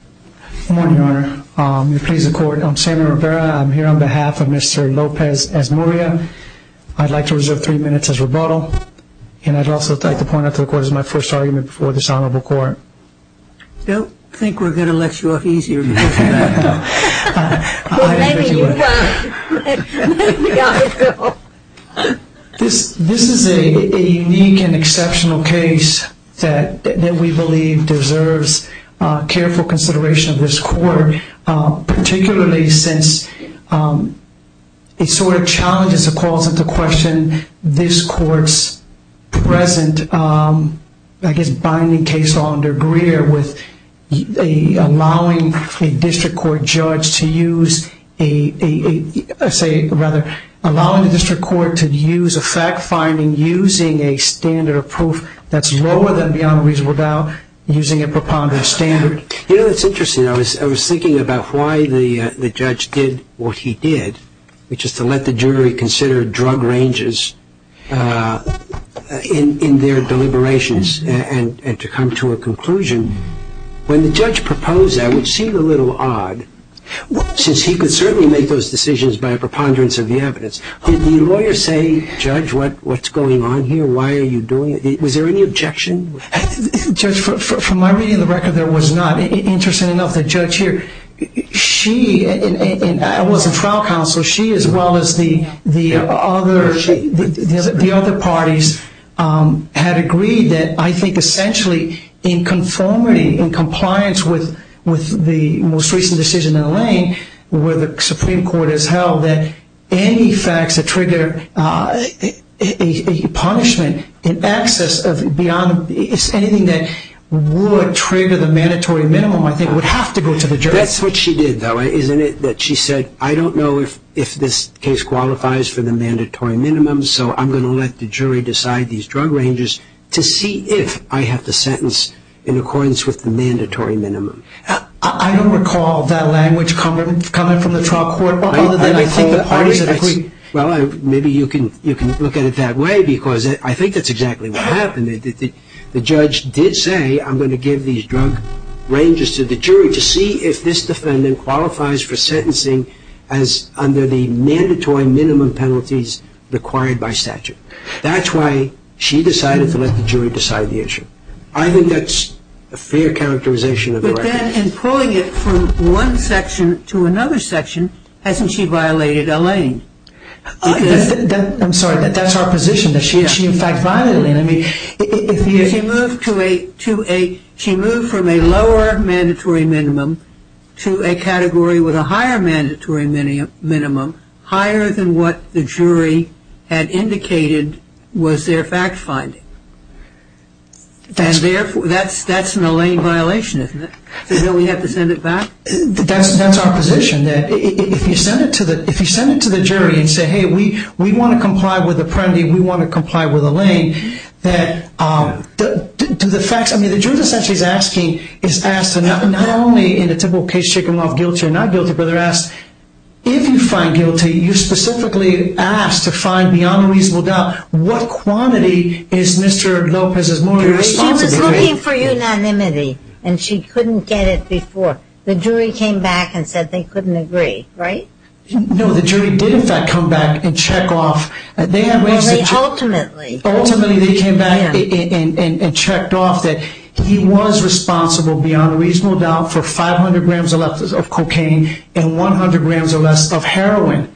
Good morning, Your Honor. I'm here on behalf of Mr. Lopez Esmurria. I'd like to reserve three minutes as rebuttal, and I'd also like to point out to the Court that this is my first argument before this Honorable Court. I don't think we're going to let you off easier than that. This is a unique and exceptional case that we believe deserves careful consideration of this Court, particularly since it sort of challenges or calls into question this Court's present, I guess, binding case law under Greer with allowing a district court to have a case that is not a district court. I don't think we're going to allow a district court judge to use a standard of proof that's lower than beyond reasonable doubt using a preponderance standard. You know, it's interesting. I was thinking about why the judge did what he did, which is to let the jury consider drug ranges in their deliberations and to come to a conclusion. When the judge proposed that, it seemed a little odd, since he could certainly make those decisions by a preponderance of the evidence. Did the lawyer say, Judge, what's going on here? Why are you doing it? Was there any objection? Judge, from my reading of the record, there was not. Interesting enough, the judge here, she, and I wasn't trial counsel, she as well as the other parties had agreed that I think essentially in conformity, in compliance with the most recent decision in the lane where the Supreme Court has held that any facts that trigger a punishment in excess of beyond reasonable doubt, is anything that would trigger the mandatory minimum, I think, would have to go to the jury. That's what she did, though, isn't it? She said, I don't know if this case qualifies for the mandatory minimum, so I'm going to let the jury decide these drug ranges to see if I have the sentence in accordance with the mandatory minimum. I don't recall that language coming from the trial court, other than I think the parties that agreed. Well, maybe you can look at it that way, because I think that's exactly what happened. The judge did say, I'm going to give these drug ranges to the jury to see if this defendant qualifies for sentencing as under the mandatory minimum penalties required by statute. That's why she decided to let the jury decide the issue. I think that's a fair characterization of the record. But then in pulling it from one section to another section, hasn't she violated a lane? I'm sorry, that's our position, that she in fact violated a lane. She moved from a lower mandatory minimum to a category with a higher mandatory minimum, higher than what the jury had indicated was their fact-finding. That's an Elaine violation, isn't it? So don't we have to send it back? That's our position. If you send it to the jury and say, hey, we want to comply with Apprendi, we want to comply with Elaine, do the facts… The jury's essentially asking, not only in the typical case, check him off guilty or not guilty, but they're asking, if you find guilty, you specifically asked to find beyond a reasonable doubt, what quantity is Mr. Lopez's moral responsibility? She was looking for unanimity, and she couldn't get it before. The jury came back and said they couldn't agree, right? No, the jury did in fact come back and check off. Well, they ultimately… He was responsible beyond a reasonable doubt for 500 grams or less of cocaine and 100 grams or less of heroin.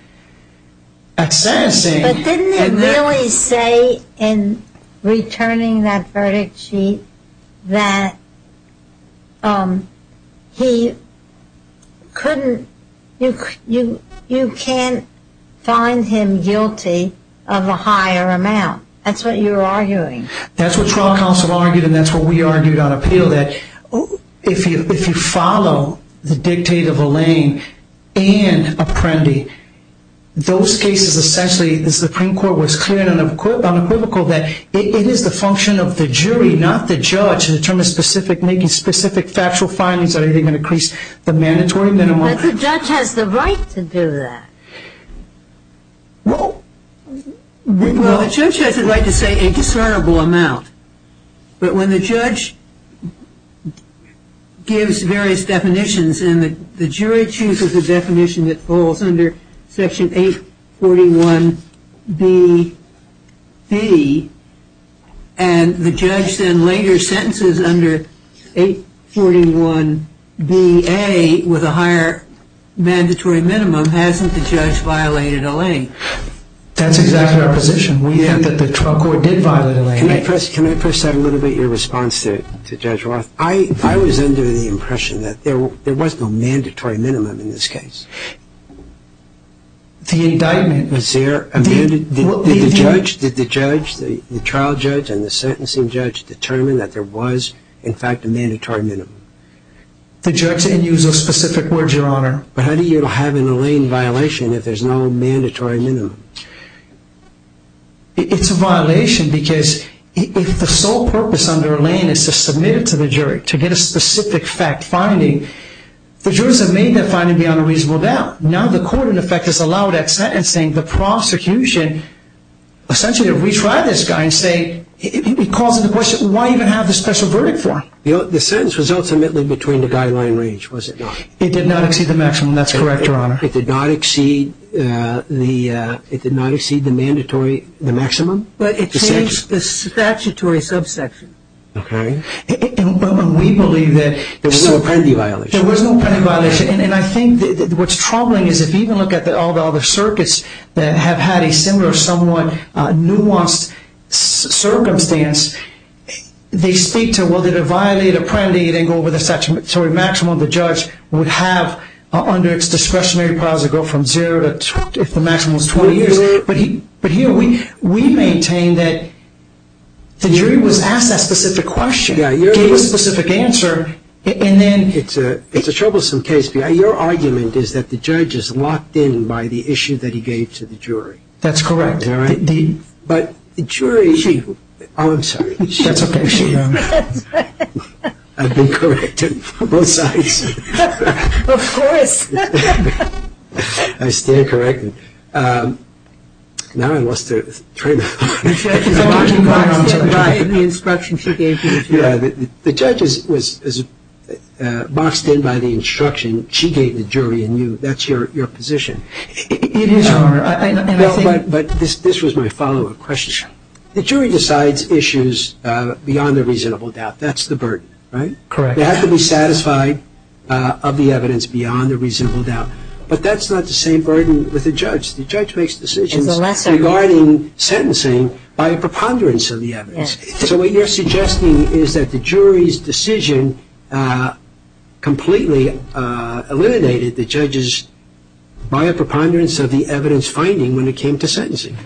But didn't it really say in returning that verdict sheet that he couldn't, you can't find him guilty of a higher amount? That's what you're arguing. That's what trial counsel argued, and that's what we argued on appeal, that if you follow the dictate of Elaine and Apprendi, those cases essentially, the Supreme Court was clear and unequivocal that it is the function of the jury, not the judge, to determine specific, making specific factual findings that are going to increase the mandatory minimum. But the judge has the right to do that. Well, the judge has the right to say a discernible amount. But when the judge gives various definitions, and the jury chooses a definition that falls under Section 841B-B, and the judge then later sentences under 841B-A with a higher mandatory minimum, hasn't the judge violated Elaine? That's exactly our position. We think that the trial court did violate Elaine. Can I first add a little bit to your response to Judge Roth? I was under the impression that there was no mandatory minimum in this case. The indictment... Did the judge, the trial judge and the sentencing judge determine that there was, in fact, a mandatory minimum? The judge didn't use those specific words, Your Honor. But how do you have an Elaine violation if there's no mandatory minimum? It's a violation because if the sole purpose under Elaine is to submit it to the jury, to get a specific fact finding, the jurors have made that finding beyond a reasonable doubt. Now the court, in effect, has allowed that sentencing. The prosecution, essentially, if we try this guy and say... It causes the question, why even have the special verdict for him? The sentence was ultimately between the guideline range, was it not? It did not exceed the maximum. That's correct, Your Honor. It did not exceed the mandatory maximum. But it changed the statutory subsection. Okay. And we believe that... There was no Apprendi violation. There was no Apprendi violation. And I think what's troubling is if you even look at all the other circuits that have had a similar, somewhat nuanced circumstance, they speak to, well, did it violate Apprendi? It didn't go over the statutory maximum the judge would have under its discretionary powers to go from zero to 20, if the maximum was 20 years. But here, we maintain that the jury was asked that specific question, gave a specific answer, and then... It's a troublesome case. Your argument is that the judge is locked in by the issue that he gave to the jury. That's correct. But the jury... Chief. Oh, I'm sorry. That's okay, Chief. I've been corrected on both sides. Of course. I stand corrected. Now I lost the train of thought. The judge is locked in by the instruction she gave to the jury. Yeah, the judge is boxed in by the instruction she gave the jury, and that's your position. It is, Your Honor. But this was my follow-up question. The jury decides issues beyond a reasonable doubt. That's the burden, right? Correct. They have to be satisfied of the evidence beyond a reasonable doubt. But that's not the same burden with the judge. The judge makes decisions regarding sentencing by a preponderance of the evidence. So what you're suggesting is that the jury's decision completely eliminated the judge's, by a preponderance of the evidence finding when it came to sentencing.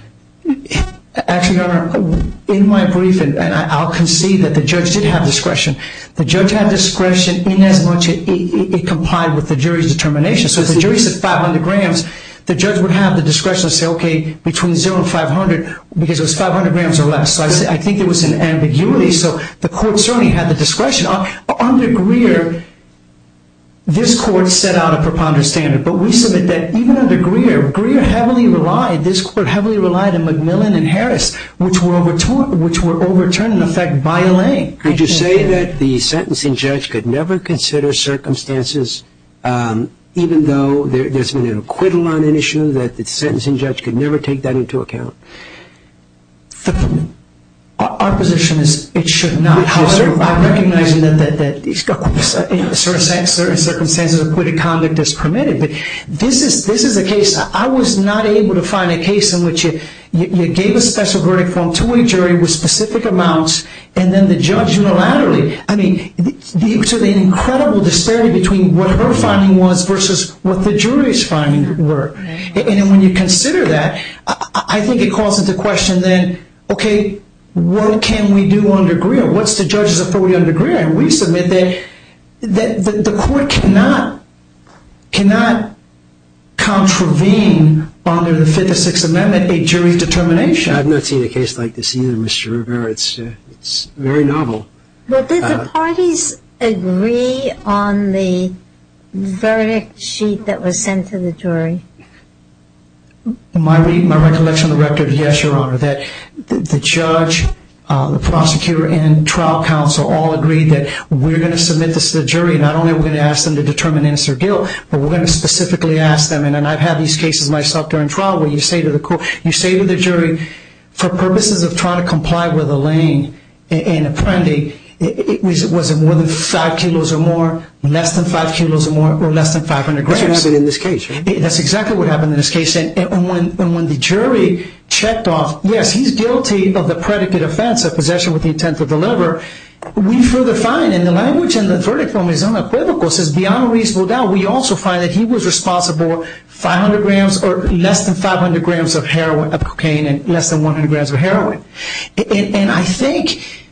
Actually, Your Honor, in my briefing, and I'll concede that the judge did have discretion. The judge had discretion in as much as it complied with the jury's determination. So if the jury said 500 grams, the judge would have the discretion to say, okay, between 0 and 500, because it was 500 grams or less. So I think there was an ambiguity. So the court certainly had the discretion. Under Greer, this court set out a preponderance standard. But we submit that even under Greer, Greer heavily relied, this court heavily relied on McMillan and Harris, which were overturned, in effect, by a lay. Did you say that the sentencing judge could never consider circumstances, even though there's been an acquittal on an issue, that the sentencing judge could never take that into account? Our position is it should not. However, recognizing that certain circumstances of acquitted conduct is permitted. But this is a case. I was not able to find a case in which you gave a special verdict to a jury with specific amounts, and then the judge unilaterally. I mean, to the incredible disparity between what her finding was versus what the jury's finding were. And when you consider that, I think it calls into question then, okay, what can we do under Greer? What's the judge's authority under Greer? And we submit that the court cannot contravene under the Fifth or Sixth Amendment a jury's determination. I've not seen a case like this either, Mr. Rivera. It's very novel. But did the parties agree on the verdict sheet that was sent to the jury? In my recollection of the record, yes, Your Honor. The judge, the prosecutor, and trial counsel all agreed that we're going to submit this to the jury. Not only are we going to ask them to determine it's their guilt, but we're going to specifically ask them. And I've had these cases myself during trial where you say to the jury, for purposes of trying to comply with Elaine and Apprendi, was it more than five kilos or more, less than five kilos or more, or less than 500 grams? That's what happened in this case. That's exactly what happened in this case. And when the jury checked off, yes, he's guilty of the predicate offense, a possession with the intent to deliver, we further find in the language and the verdict from his own equivocal, says beyond a reasonable doubt, we also find that he was responsible 500 grams or less than 500 grams of cocaine and less than 100 grams of heroin. And I think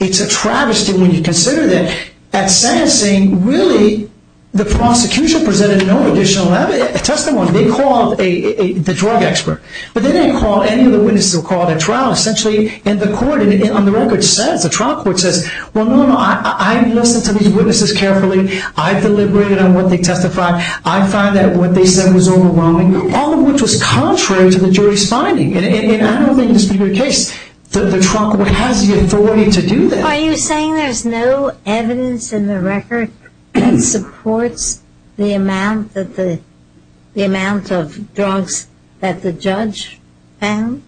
it's a travesty when you consider that at sentencing, really, the prosecution presented no additional testimony. They called the drug expert. But they didn't call any of the witnesses who were called at trial. Essentially, the court on the record says, the trial court says, well, no, no, I listened to these witnesses carefully. I deliberated on what they testified. I find that what they said was overwhelming, all of which was contrary to the jury's finding. And I don't think this would be the case. The trial court has the authority to do that. Are you saying there's no evidence in the record that supports the amount of drugs that the judge found?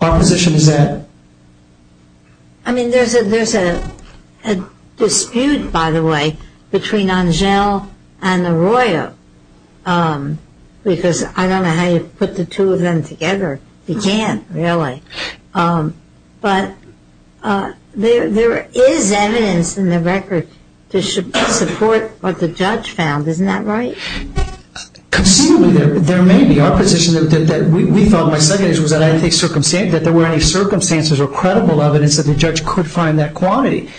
Our position is that. I mean, there's a dispute, by the way, between Angel and Arroyo, because I don't know how you put the two of them together. You can't, really. But there is evidence in the record to support what the judge found. Isn't that right? Conceivably, there may be. Our position that we felt in my second case was that there were any circumstances or credible evidence that the judge could find that quantity.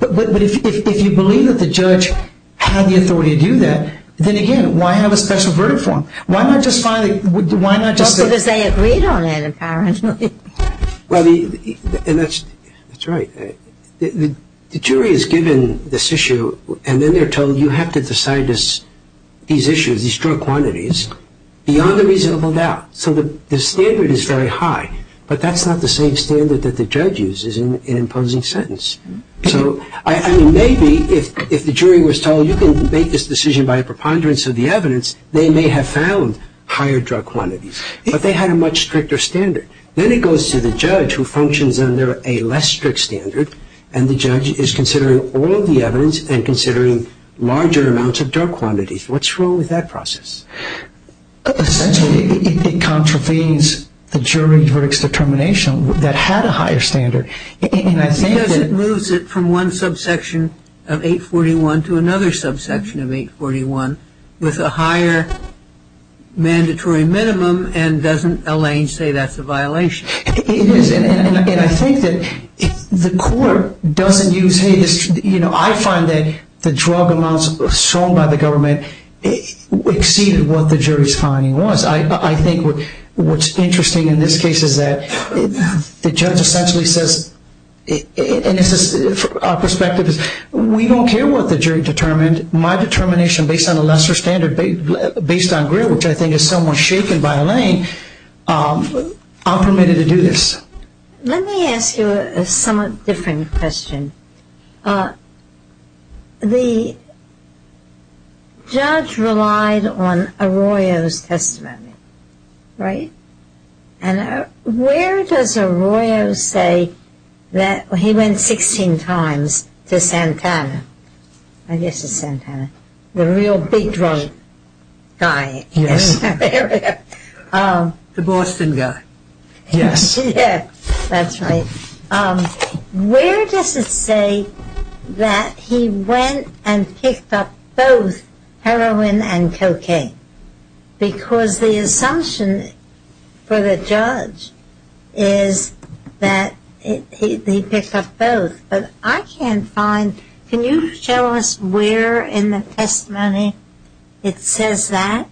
But if you believe that the judge had the authority to do that, then, again, why have a special verdict for him? Why not just finally, why not just say? Because they agreed on it, apparently. Well, and that's right. The jury is given this issue, and then they're told you have to decide these issues, these drug quantities, beyond a reasonable doubt. So the standard is very high. But that's not the same standard that the judge uses in imposing sentence. So, I mean, maybe if the jury was told you can make this decision by a preponderance of the evidence, they may have found higher drug quantities. But they had a much stricter standard. Then it goes to the judge, who functions under a less strict standard, and the judge is considering all of the evidence and considering larger amounts of drug quantities. What's wrong with that process? Essentially, it contravenes the jury verdict's determination that had a higher standard. Because it moves it from one subsection of 841 to another subsection of 841 with a higher mandatory minimum, and doesn't Elaine say that's a violation? It is. And I think that the court doesn't use, hey, this, you know, I find that the drug amounts sold by the government exceeded what the jury's finding was. I think what's interesting in this case is that the judge essentially says, and this is our perspective, is we don't care what the jury determined. My determination based on a lesser standard, based on grit, which I think is somewhat shaken by Elaine, I'm permitted to do this. Let me ask you a somewhat different question. The judge relied on Arroyo's testimony, right? And where does Arroyo say that he went 16 times to Santana? I guess it's Santana. The real big drug guy. Yes. The Boston guy. Yes. Yeah, that's right. Where does it say that he went and picked up both heroin and cocaine? Because the assumption for the judge is that he picked up both. But I can't find, can you show us where in the testimony it says that?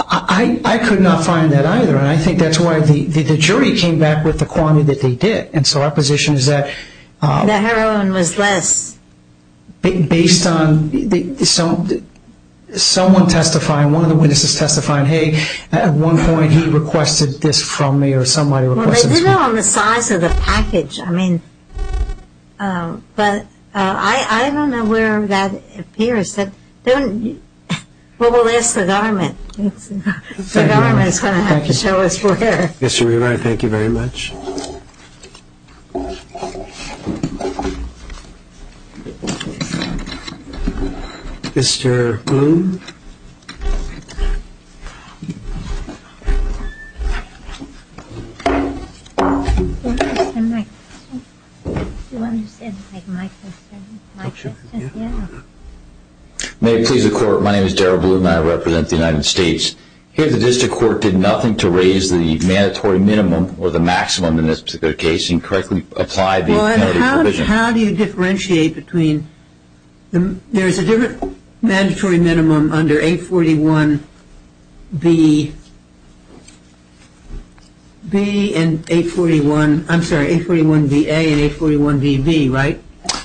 I could not find that either, and I think that's why the jury came back with the quantity that they did. And so our position is that the heroin was less. Based on someone testifying, one of the witnesses testifying, hey, at one point he requested this from me or somebody requested this from me. Well, they did it on the size of the package. I mean, but I don't know where that appears. Well, we'll ask the government. The government is going to have to show us where. Yes, you're right. Thank you very much. Mr. Bloom. May it please the Court, my name is Darrell Bloom and I represent the United States. Here the district court did nothing to raise the mandatory minimum or the maximum in this particular case and correctly apply the penalty provision. Well, how do you differentiate between, there is a different mandatory minimum under 841B and 841, I'm sorry, 841BA and 841BB, right?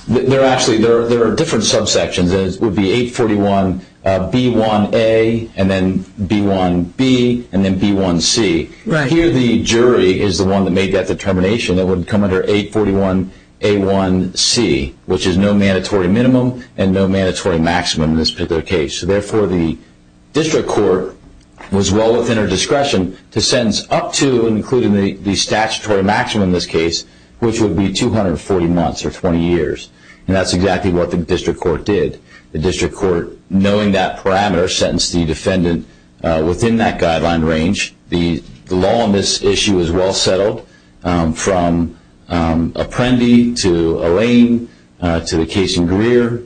Actually, there are different subsections. It would be 841B1A and then B1B and then B1C. Here the jury is the one that made that determination that it would come under 841A1C, which is no mandatory minimum and no mandatory maximum in this particular case. Therefore, the district court was well within our discretion to sentence up to including the statutory maximum in this case, which would be 240 months or 20 years. And that's exactly what the district court did. The district court, knowing that parameter, sentenced the defendant within that guideline range. The law on this issue is well settled from Apprendi to Allain to the case in Greer.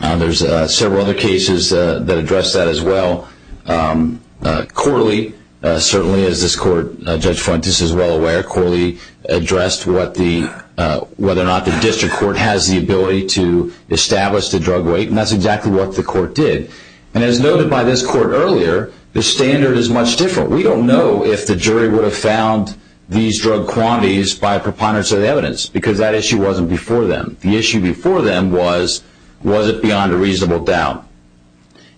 There's several other cases that address that as well. Corley, certainly as this court, Judge Fuentes is well aware, Corley addressed whether or not the district court has the ability to establish the drug weight, and that's exactly what the court did. And as noted by this court earlier, the standard is much different. We don't know if the jury would have found these drug quantities by preponderance of the evidence because that issue wasn't before them. The issue before them was, was it beyond a reasonable doubt?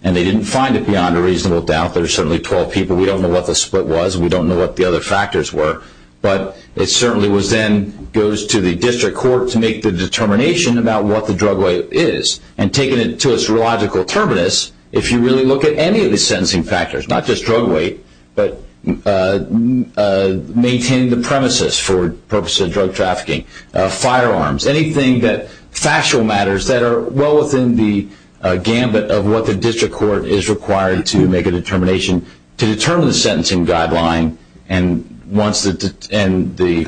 And they didn't find it beyond a reasonable doubt. There are certainly 12 people. We don't know what the split was. We don't know what the other factors were. But it certainly then goes to the district court to make the determination about what the drug weight is. And taking it to its logical terminus, if you really look at any of the sentencing factors, not just drug weight, but maintaining the premises for purposes of drug trafficking, firearms, anything that factual matters that are well within the gambit of what the district court is required to make a determination, to determine the sentencing guideline, and once the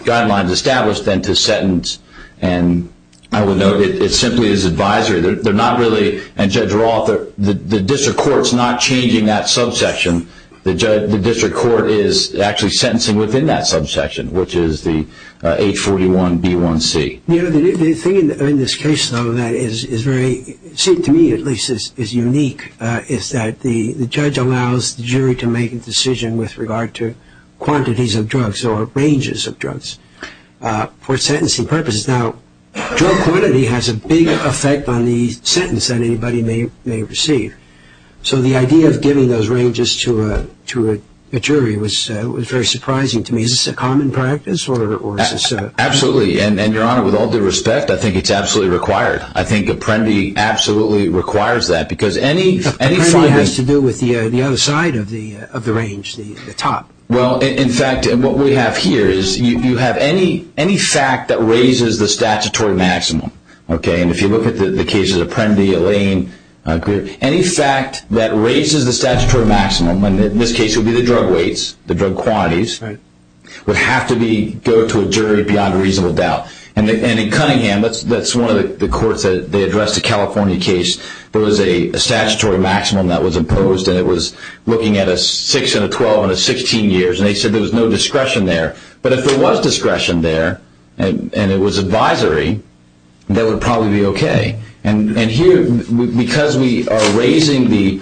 guideline is established, then to sentence. And I would note it simply is advisory. They're not really, and Judge Roth, the district court's not changing that subsection. The district court is actually sentencing within that subsection, which is the H41B1C. The thing in this case, though, that is very, to me at least, is unique, is that the judge allows the jury to make a decision with regard to quantities of drugs or ranges of drugs for sentencing purposes. Now, drug quantity has a big effect on the sentence that anybody may receive. So the idea of giving those ranges to a jury was very surprising to me. Is this a common practice? Absolutely. And, Your Honor, with all due respect, I think it's absolutely required. I think Apprendi absolutely requires that. Apprendi has to do with the other side of the range, the top. Well, in fact, what we have here is you have any fact that raises the statutory maximum. And if you look at the cases of Apprendi, Elaine, any fact that raises the statutory maximum, and in this case it would be the drug weights, the drug quantities, would have to go to a jury beyond reasonable doubt. And in Cunningham, that's one of the courts that they addressed a California case. There was a statutory maximum that was imposed, and it was looking at a 6 and a 12 and a 16 years, and they said there was no discretion there. But if there was discretion there and it was advisory, that would probably be okay. And here, because we are raising the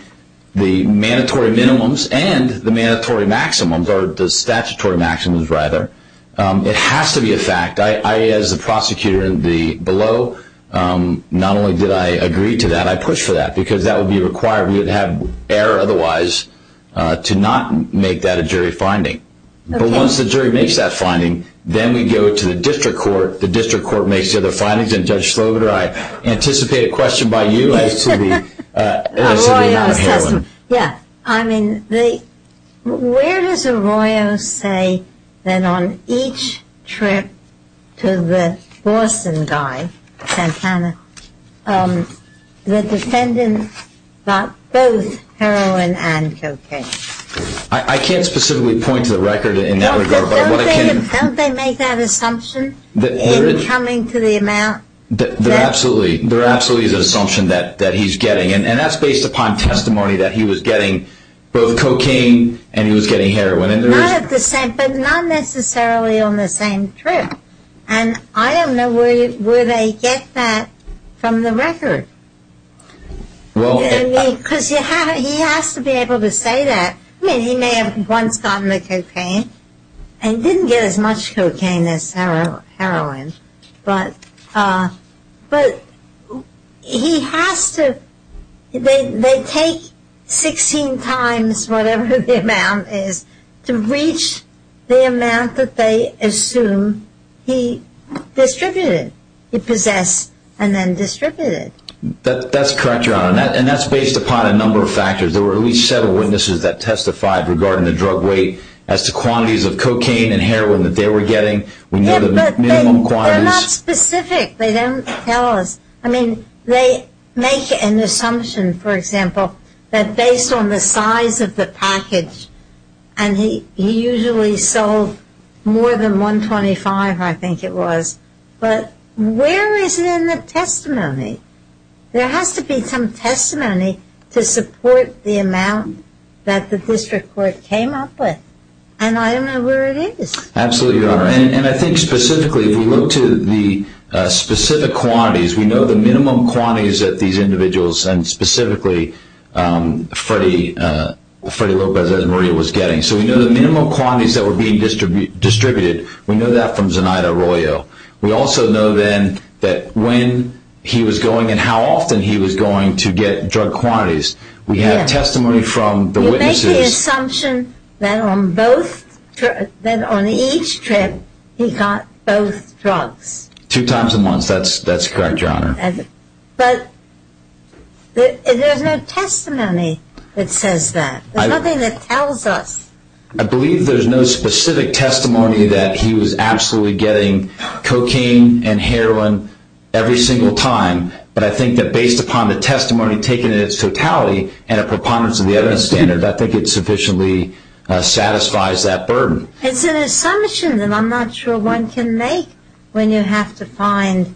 mandatory minimums and the mandatory maximums, or the statutory maximums rather, it has to be a fact. I, as the prosecutor below, not only did I agree to that, I pushed for that, because that would be required. We would have error otherwise to not make that a jury finding. But once the jury makes that finding, then we go to the district court. The district court makes the other findings. And Judge Slobodar, I anticipate a question by you as to the non-heroin. Yeah. I mean, where does Arroyo say that on each trip to the Boston guy, Santana, the defendant got both heroin and cocaine? I can't specifically point to the record in that regard. Don't they make that assumption in coming to the amount? There absolutely is an assumption that he's getting, and that's based upon testimony that he was getting both cocaine and he was getting heroin. But not necessarily on the same trip. And I don't know where they get that from the record. Because he has to be able to say that. I mean, he may have once gotten the cocaine and didn't get as much cocaine as heroin. But he has to, they take 16 times whatever the amount is to reach the amount that they assume he distributed, he possessed and then distributed. That's correct, Your Honor. And that's based upon a number of factors. There were at least several witnesses that testified regarding the drug weight as to quantities of cocaine and heroin that they were getting. Yeah, but they're not specific. They don't tell us. I mean, they make an assumption, for example, that based on the size of the package, and he usually sold more than 125, I think it was. But where is it in the testimony? There has to be some testimony to support the amount that the district court came up with. And I don't know where it is. Absolutely, Your Honor. And I think specifically if you look to the specific quantities, we know the minimum quantities that these individuals, and specifically Freddy Lopez and Maria was getting. So we know the minimum quantities that were being distributed. We know that from Zenaida Arroyo. We also know then that when he was going and how often he was going to get drug quantities. We have testimony from the witnesses. You make the assumption that on each trip he got both drugs. Two times a month. That's correct, Your Honor. But there's no testimony that says that. There's nothing that tells us. I believe there's no specific testimony that he was absolutely getting cocaine and heroin every single time. But I think that based upon the testimony taken in its totality and a preponderance of the evidence standard, I think it sufficiently satisfies that burden. It's an assumption that I'm not sure one can make when you have to find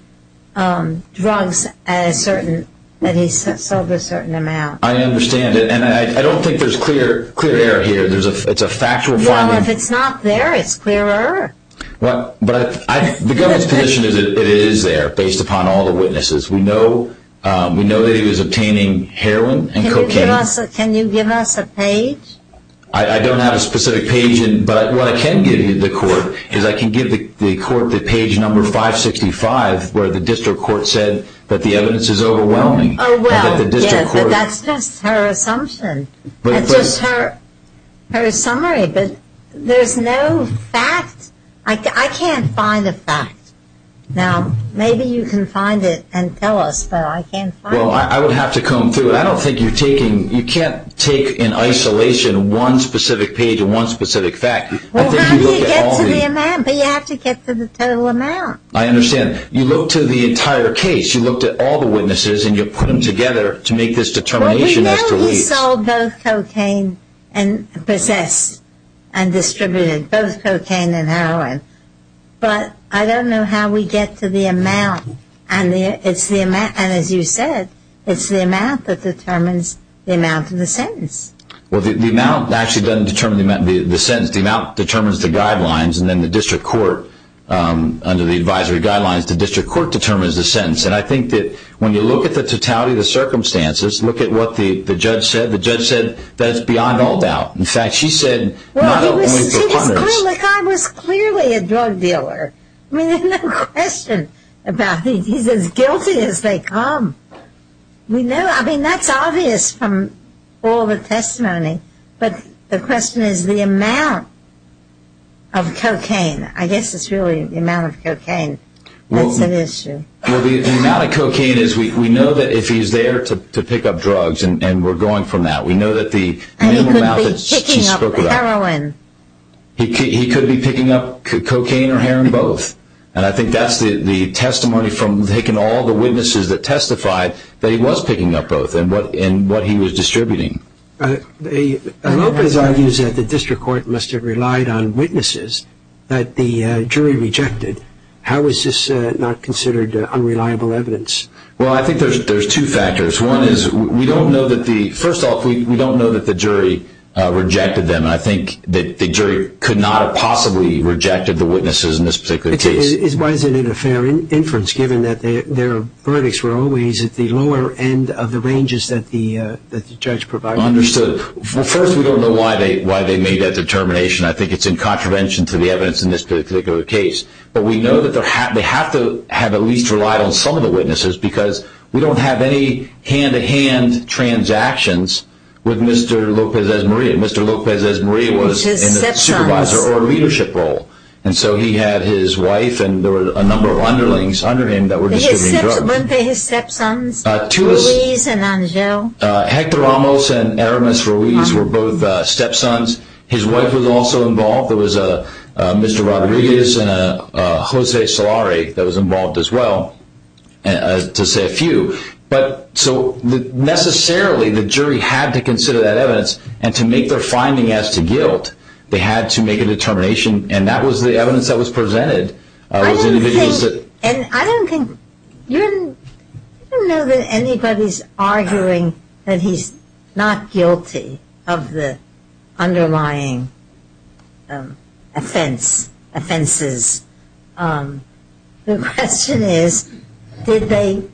drugs that he sold a certain amount. I understand it. And I don't think there's clear error here. It's a factual finding. Well, if it's not there, it's clear error. But the government's position is that it is there based upon all the witnesses. We know that he was obtaining heroin and cocaine. Can you give us a page? I don't have a specific page, but what I can give you, the court, is I can give the court the page number 565 where the district court said that the evidence is overwhelming. Oh, well, yes, but that's just her assumption. That's just her summary. But there's no fact. I can't find a fact. Now, maybe you can find it and tell us, but I can't find it. Well, I would have to comb through it. I don't think you're taking ñ you can't take in isolation one specific page and one specific fact. Well, how do you get to the amount? But you have to get to the total amount. I understand. You look to the entire case. You looked at all the witnesses, and you put them together to make this determination as to which. He sold both cocaine and possessed and distributed both cocaine and heroin. But I don't know how we get to the amount. And as you said, it's the amount that determines the amount of the sentence. Well, the amount actually doesn't determine the sentence. The amount determines the guidelines, and then the district court, under the advisory guidelines, the district court determines the sentence. And I think that when you look at the totality of the circumstances, look at what the judge said. The judge said that it's beyond all doubt. In fact, she said not only for Congress. Well, the guy was clearly a drug dealer. I mean, there's no question about it. He's as guilty as they come. We know. I mean, that's obvious from all the testimony. But the question is the amount of cocaine. I guess it's really the amount of cocaine that's at issue. Well, the amount of cocaine is we know that if he's there to pick up drugs, and we're going from that, we know that the minimum amount that she spoke about. And he could be picking up heroin. He could be picking up cocaine or heroin, both. And I think that's the testimony from taking all the witnesses that testified that he was picking up both and what he was distributing. Lopez argues that the district court must have relied on witnesses that the jury rejected. How is this not considered unreliable evidence? Well, I think there's two factors. One is we don't know that the jury rejected them. I think that the jury could not have possibly rejected the witnesses in this particular case. Why isn't it a fair inference given that their verdicts were always at the lower end of the ranges that the judge provided? Understood. First, we don't know why they made that determination. I think it's in contravention to the evidence in this particular case. But we know that they have to have at least relied on some of the witnesses because we don't have any hand-to-hand transactions with Mr. Lopez-Ezmaria. Mr. Lopez-Ezmaria was in the supervisor or leadership role. And so he had his wife and there were a number of underlings under him that were distributing drugs. Weren't they his stepsons, Ruiz and Angel? Hector Ramos and Eramis Ruiz were both stepsons. His wife was also involved. There was a Mr. Rodriguez and a Jose Solari that was involved as well, to say a few. But so necessarily the jury had to consider that evidence. And to make their finding as to guilt, they had to make a determination. And that was the evidence that was presented. I don't know that anybody's arguing that he's not guilty of the underlying offenses. The question is, did they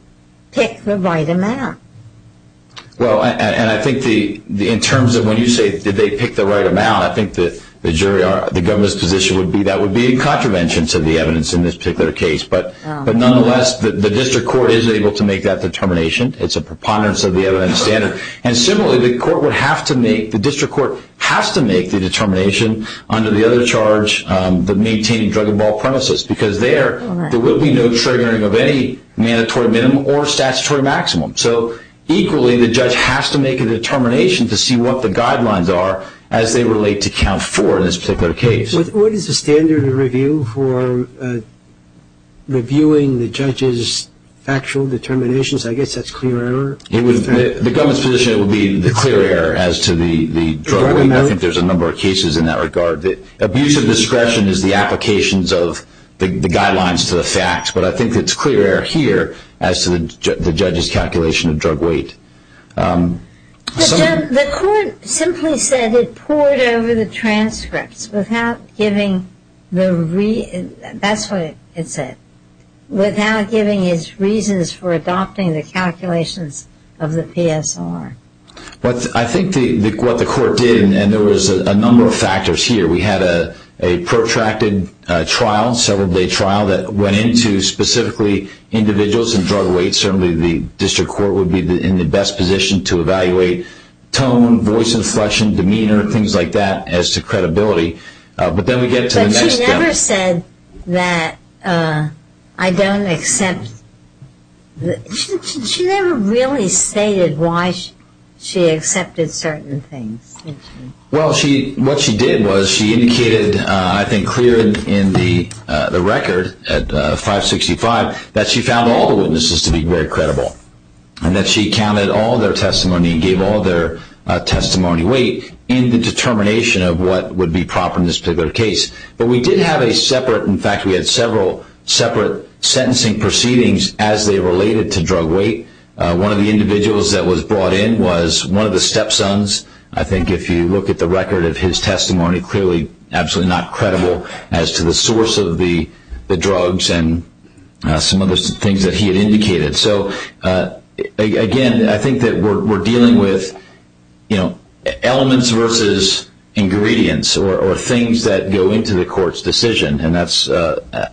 pick the right amount? Well, and I think in terms of when you say, did they pick the right amount, I think the government's position would be that would be a contravention to the evidence in this particular case. But nonetheless, the district court is able to make that determination. It's a preponderance of the evidence standard. And similarly, the district court has to make the determination under the other charge, the maintaining drug-involved premises, because there will be no triggering of any mandatory minimum or statutory maximum. So equally, the judge has to make a determination to see what the guidelines are as they relate to count four in this particular case. What is the standard of review for reviewing the judge's factual determinations? I guess that's clear error. The government's position would be the clear error as to the drug. I think there's a number of cases in that regard. Abuse of discretion is the applications of the guidelines to the facts. But I think it's clear error here as to the judge's calculation of drug weight. The court simply said it poured over the transcripts without giving the reason. That's what it said, without giving his reasons for adopting the calculations of the PSR. I think what the court did, and there was a number of factors here. We had a protracted trial, several-day trial, that went into specifically individuals and drug weights. Certainly the district court would be in the best position to evaluate tone, voice inflection, demeanor, things like that, as to credibility. But then we get to the next step. But she never said that I don't accept the – she never really stated why she accepted certain things. Well, what she did was she indicated, I think clear in the record at 565, that she found all the witnesses to be very credible. And that she counted all their testimony and gave all their testimony weight in the determination of what would be proper in this particular case. But we did have a separate – in fact, we had several separate sentencing proceedings as they related to drug weight. One of the individuals that was brought in was one of the step-sons. I think if you look at the record of his testimony, clearly absolutely not credible as to the source of the drugs and some of the things that he had indicated. So, again, I think that we're dealing with, you know, elements versus ingredients or things that go into the court's decision. And that's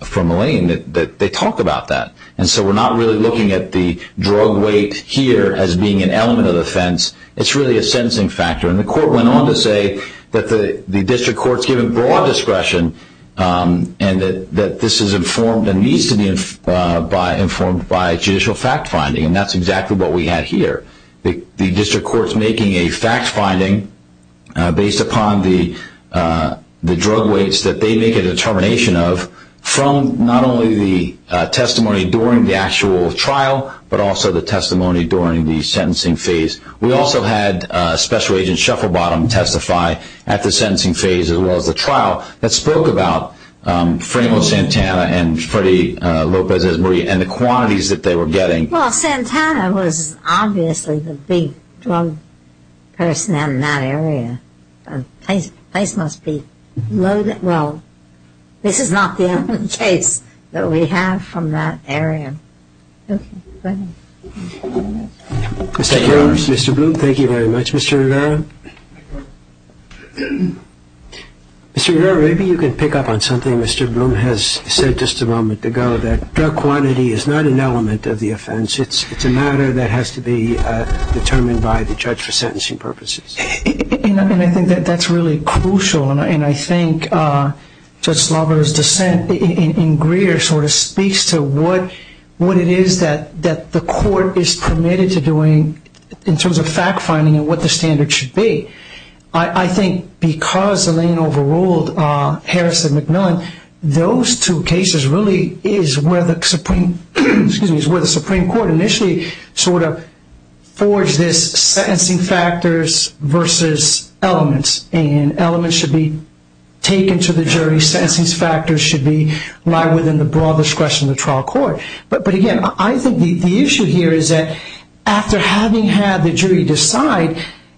from Elaine that they talk about that. And so we're not really looking at the drug weight here as being an element of the offense. It's really a sentencing factor. And the court went on to say that the district court's given broad discretion and that this is informed and needs to be informed by judicial fact-finding. And that's exactly what we had here. The district court's making a fact-finding based upon the drug weights that they make a determination of from not only the testimony during the actual trial, but also the testimony during the sentencing phase. We also had Special Agent Shufflebottom testify at the sentencing phase as well as the trial that spoke about Franco Santana and Freddie Lopez-Ezmarie and the quantities that they were getting. Well, Santana was obviously the big drug person in that area. The place must be loaded. Well, this is not the only case that we have from that area. Mr. Bloom, thank you very much. Mr. Rivera? Mr. Rivera, maybe you can pick up on something Mr. Bloom has said just a moment ago, that drug quantity is not an element of the offense. It's a matter that has to be determined by the judge for sentencing purposes. And I think that that's really crucial. And I think Judge Slover's dissent in Greer sort of speaks to what it is that the court is permitted to doing in terms of fact-finding and what the standards should be. I think because Elaine overruled Harris and McMillan, those two cases really is where the Supreme Court initially sort of forged this sentencing factors versus elements. And elements should be taken to the jury. Sentencing factors should lie within the broad discretion of the trial court. But, again, I think the issue here is that after having had the jury decide,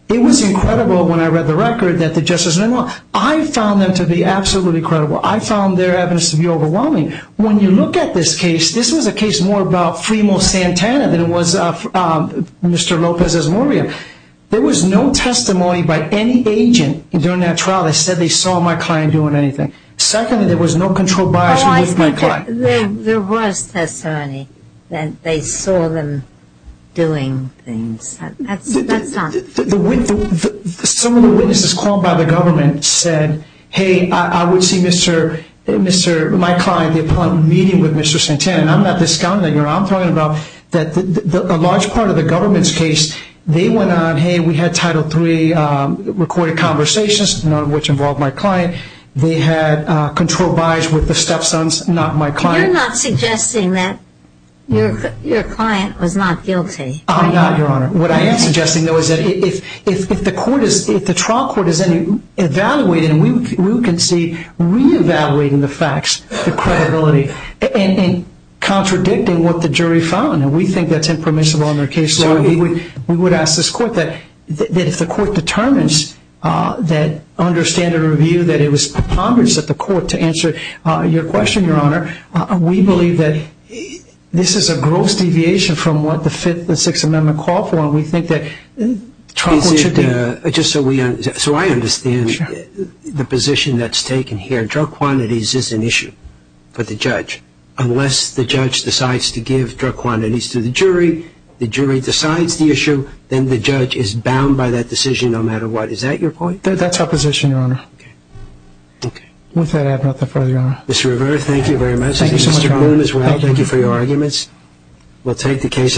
it was incredible when I read the record that the justices were wrong. I found them to be absolutely incredible. I found their evidence to be overwhelming. When you look at this case, this was a case more about Fremont Santana than it was Mr. Lopez's Maria. There was no testimony by any agent during that trial that said they saw my client doing anything. Secondly, there was no controlled bias with my client. There was testimony that they saw them doing things. Some of the witnesses called by the government said, hey, I would see my client upon meeting with Mr. Santana. And I'm not discounting that. I'm talking about a large part of the government's case, they went on, hey, we had Title III recorded conversations, none of which involved my client. They had controlled bias with the stepsons, not my client. You're not suggesting that your client was not guilty. I'm not, Your Honor. What I am suggesting, though, is that if the trial court is evaluated, we can see re-evaluating the facts, the credibility, and contradicting what the jury found. And we think that's impermissible in our case. We would ask this court that if the court determines that under standard review, that it was preponderance of the court to answer your question, Your Honor, we believe that this is a gross deviation from what the Fifth and Sixth Amendment call for, and we think that trial court should be. So I understand the position that's taken here. Drug quantities is an issue for the judge. Unless the judge decides to give drug quantities to the jury, the jury decides the issue, then the judge is bound by that decision no matter what. Is that your point? That's our position, Your Honor. Okay. With that, I have nothing further, Your Honor. Mr. Rivera, thank you very much. Thank you so much, Your Honor. Mr. Bloom as well, thank you for your arguments. We'll take the case under review.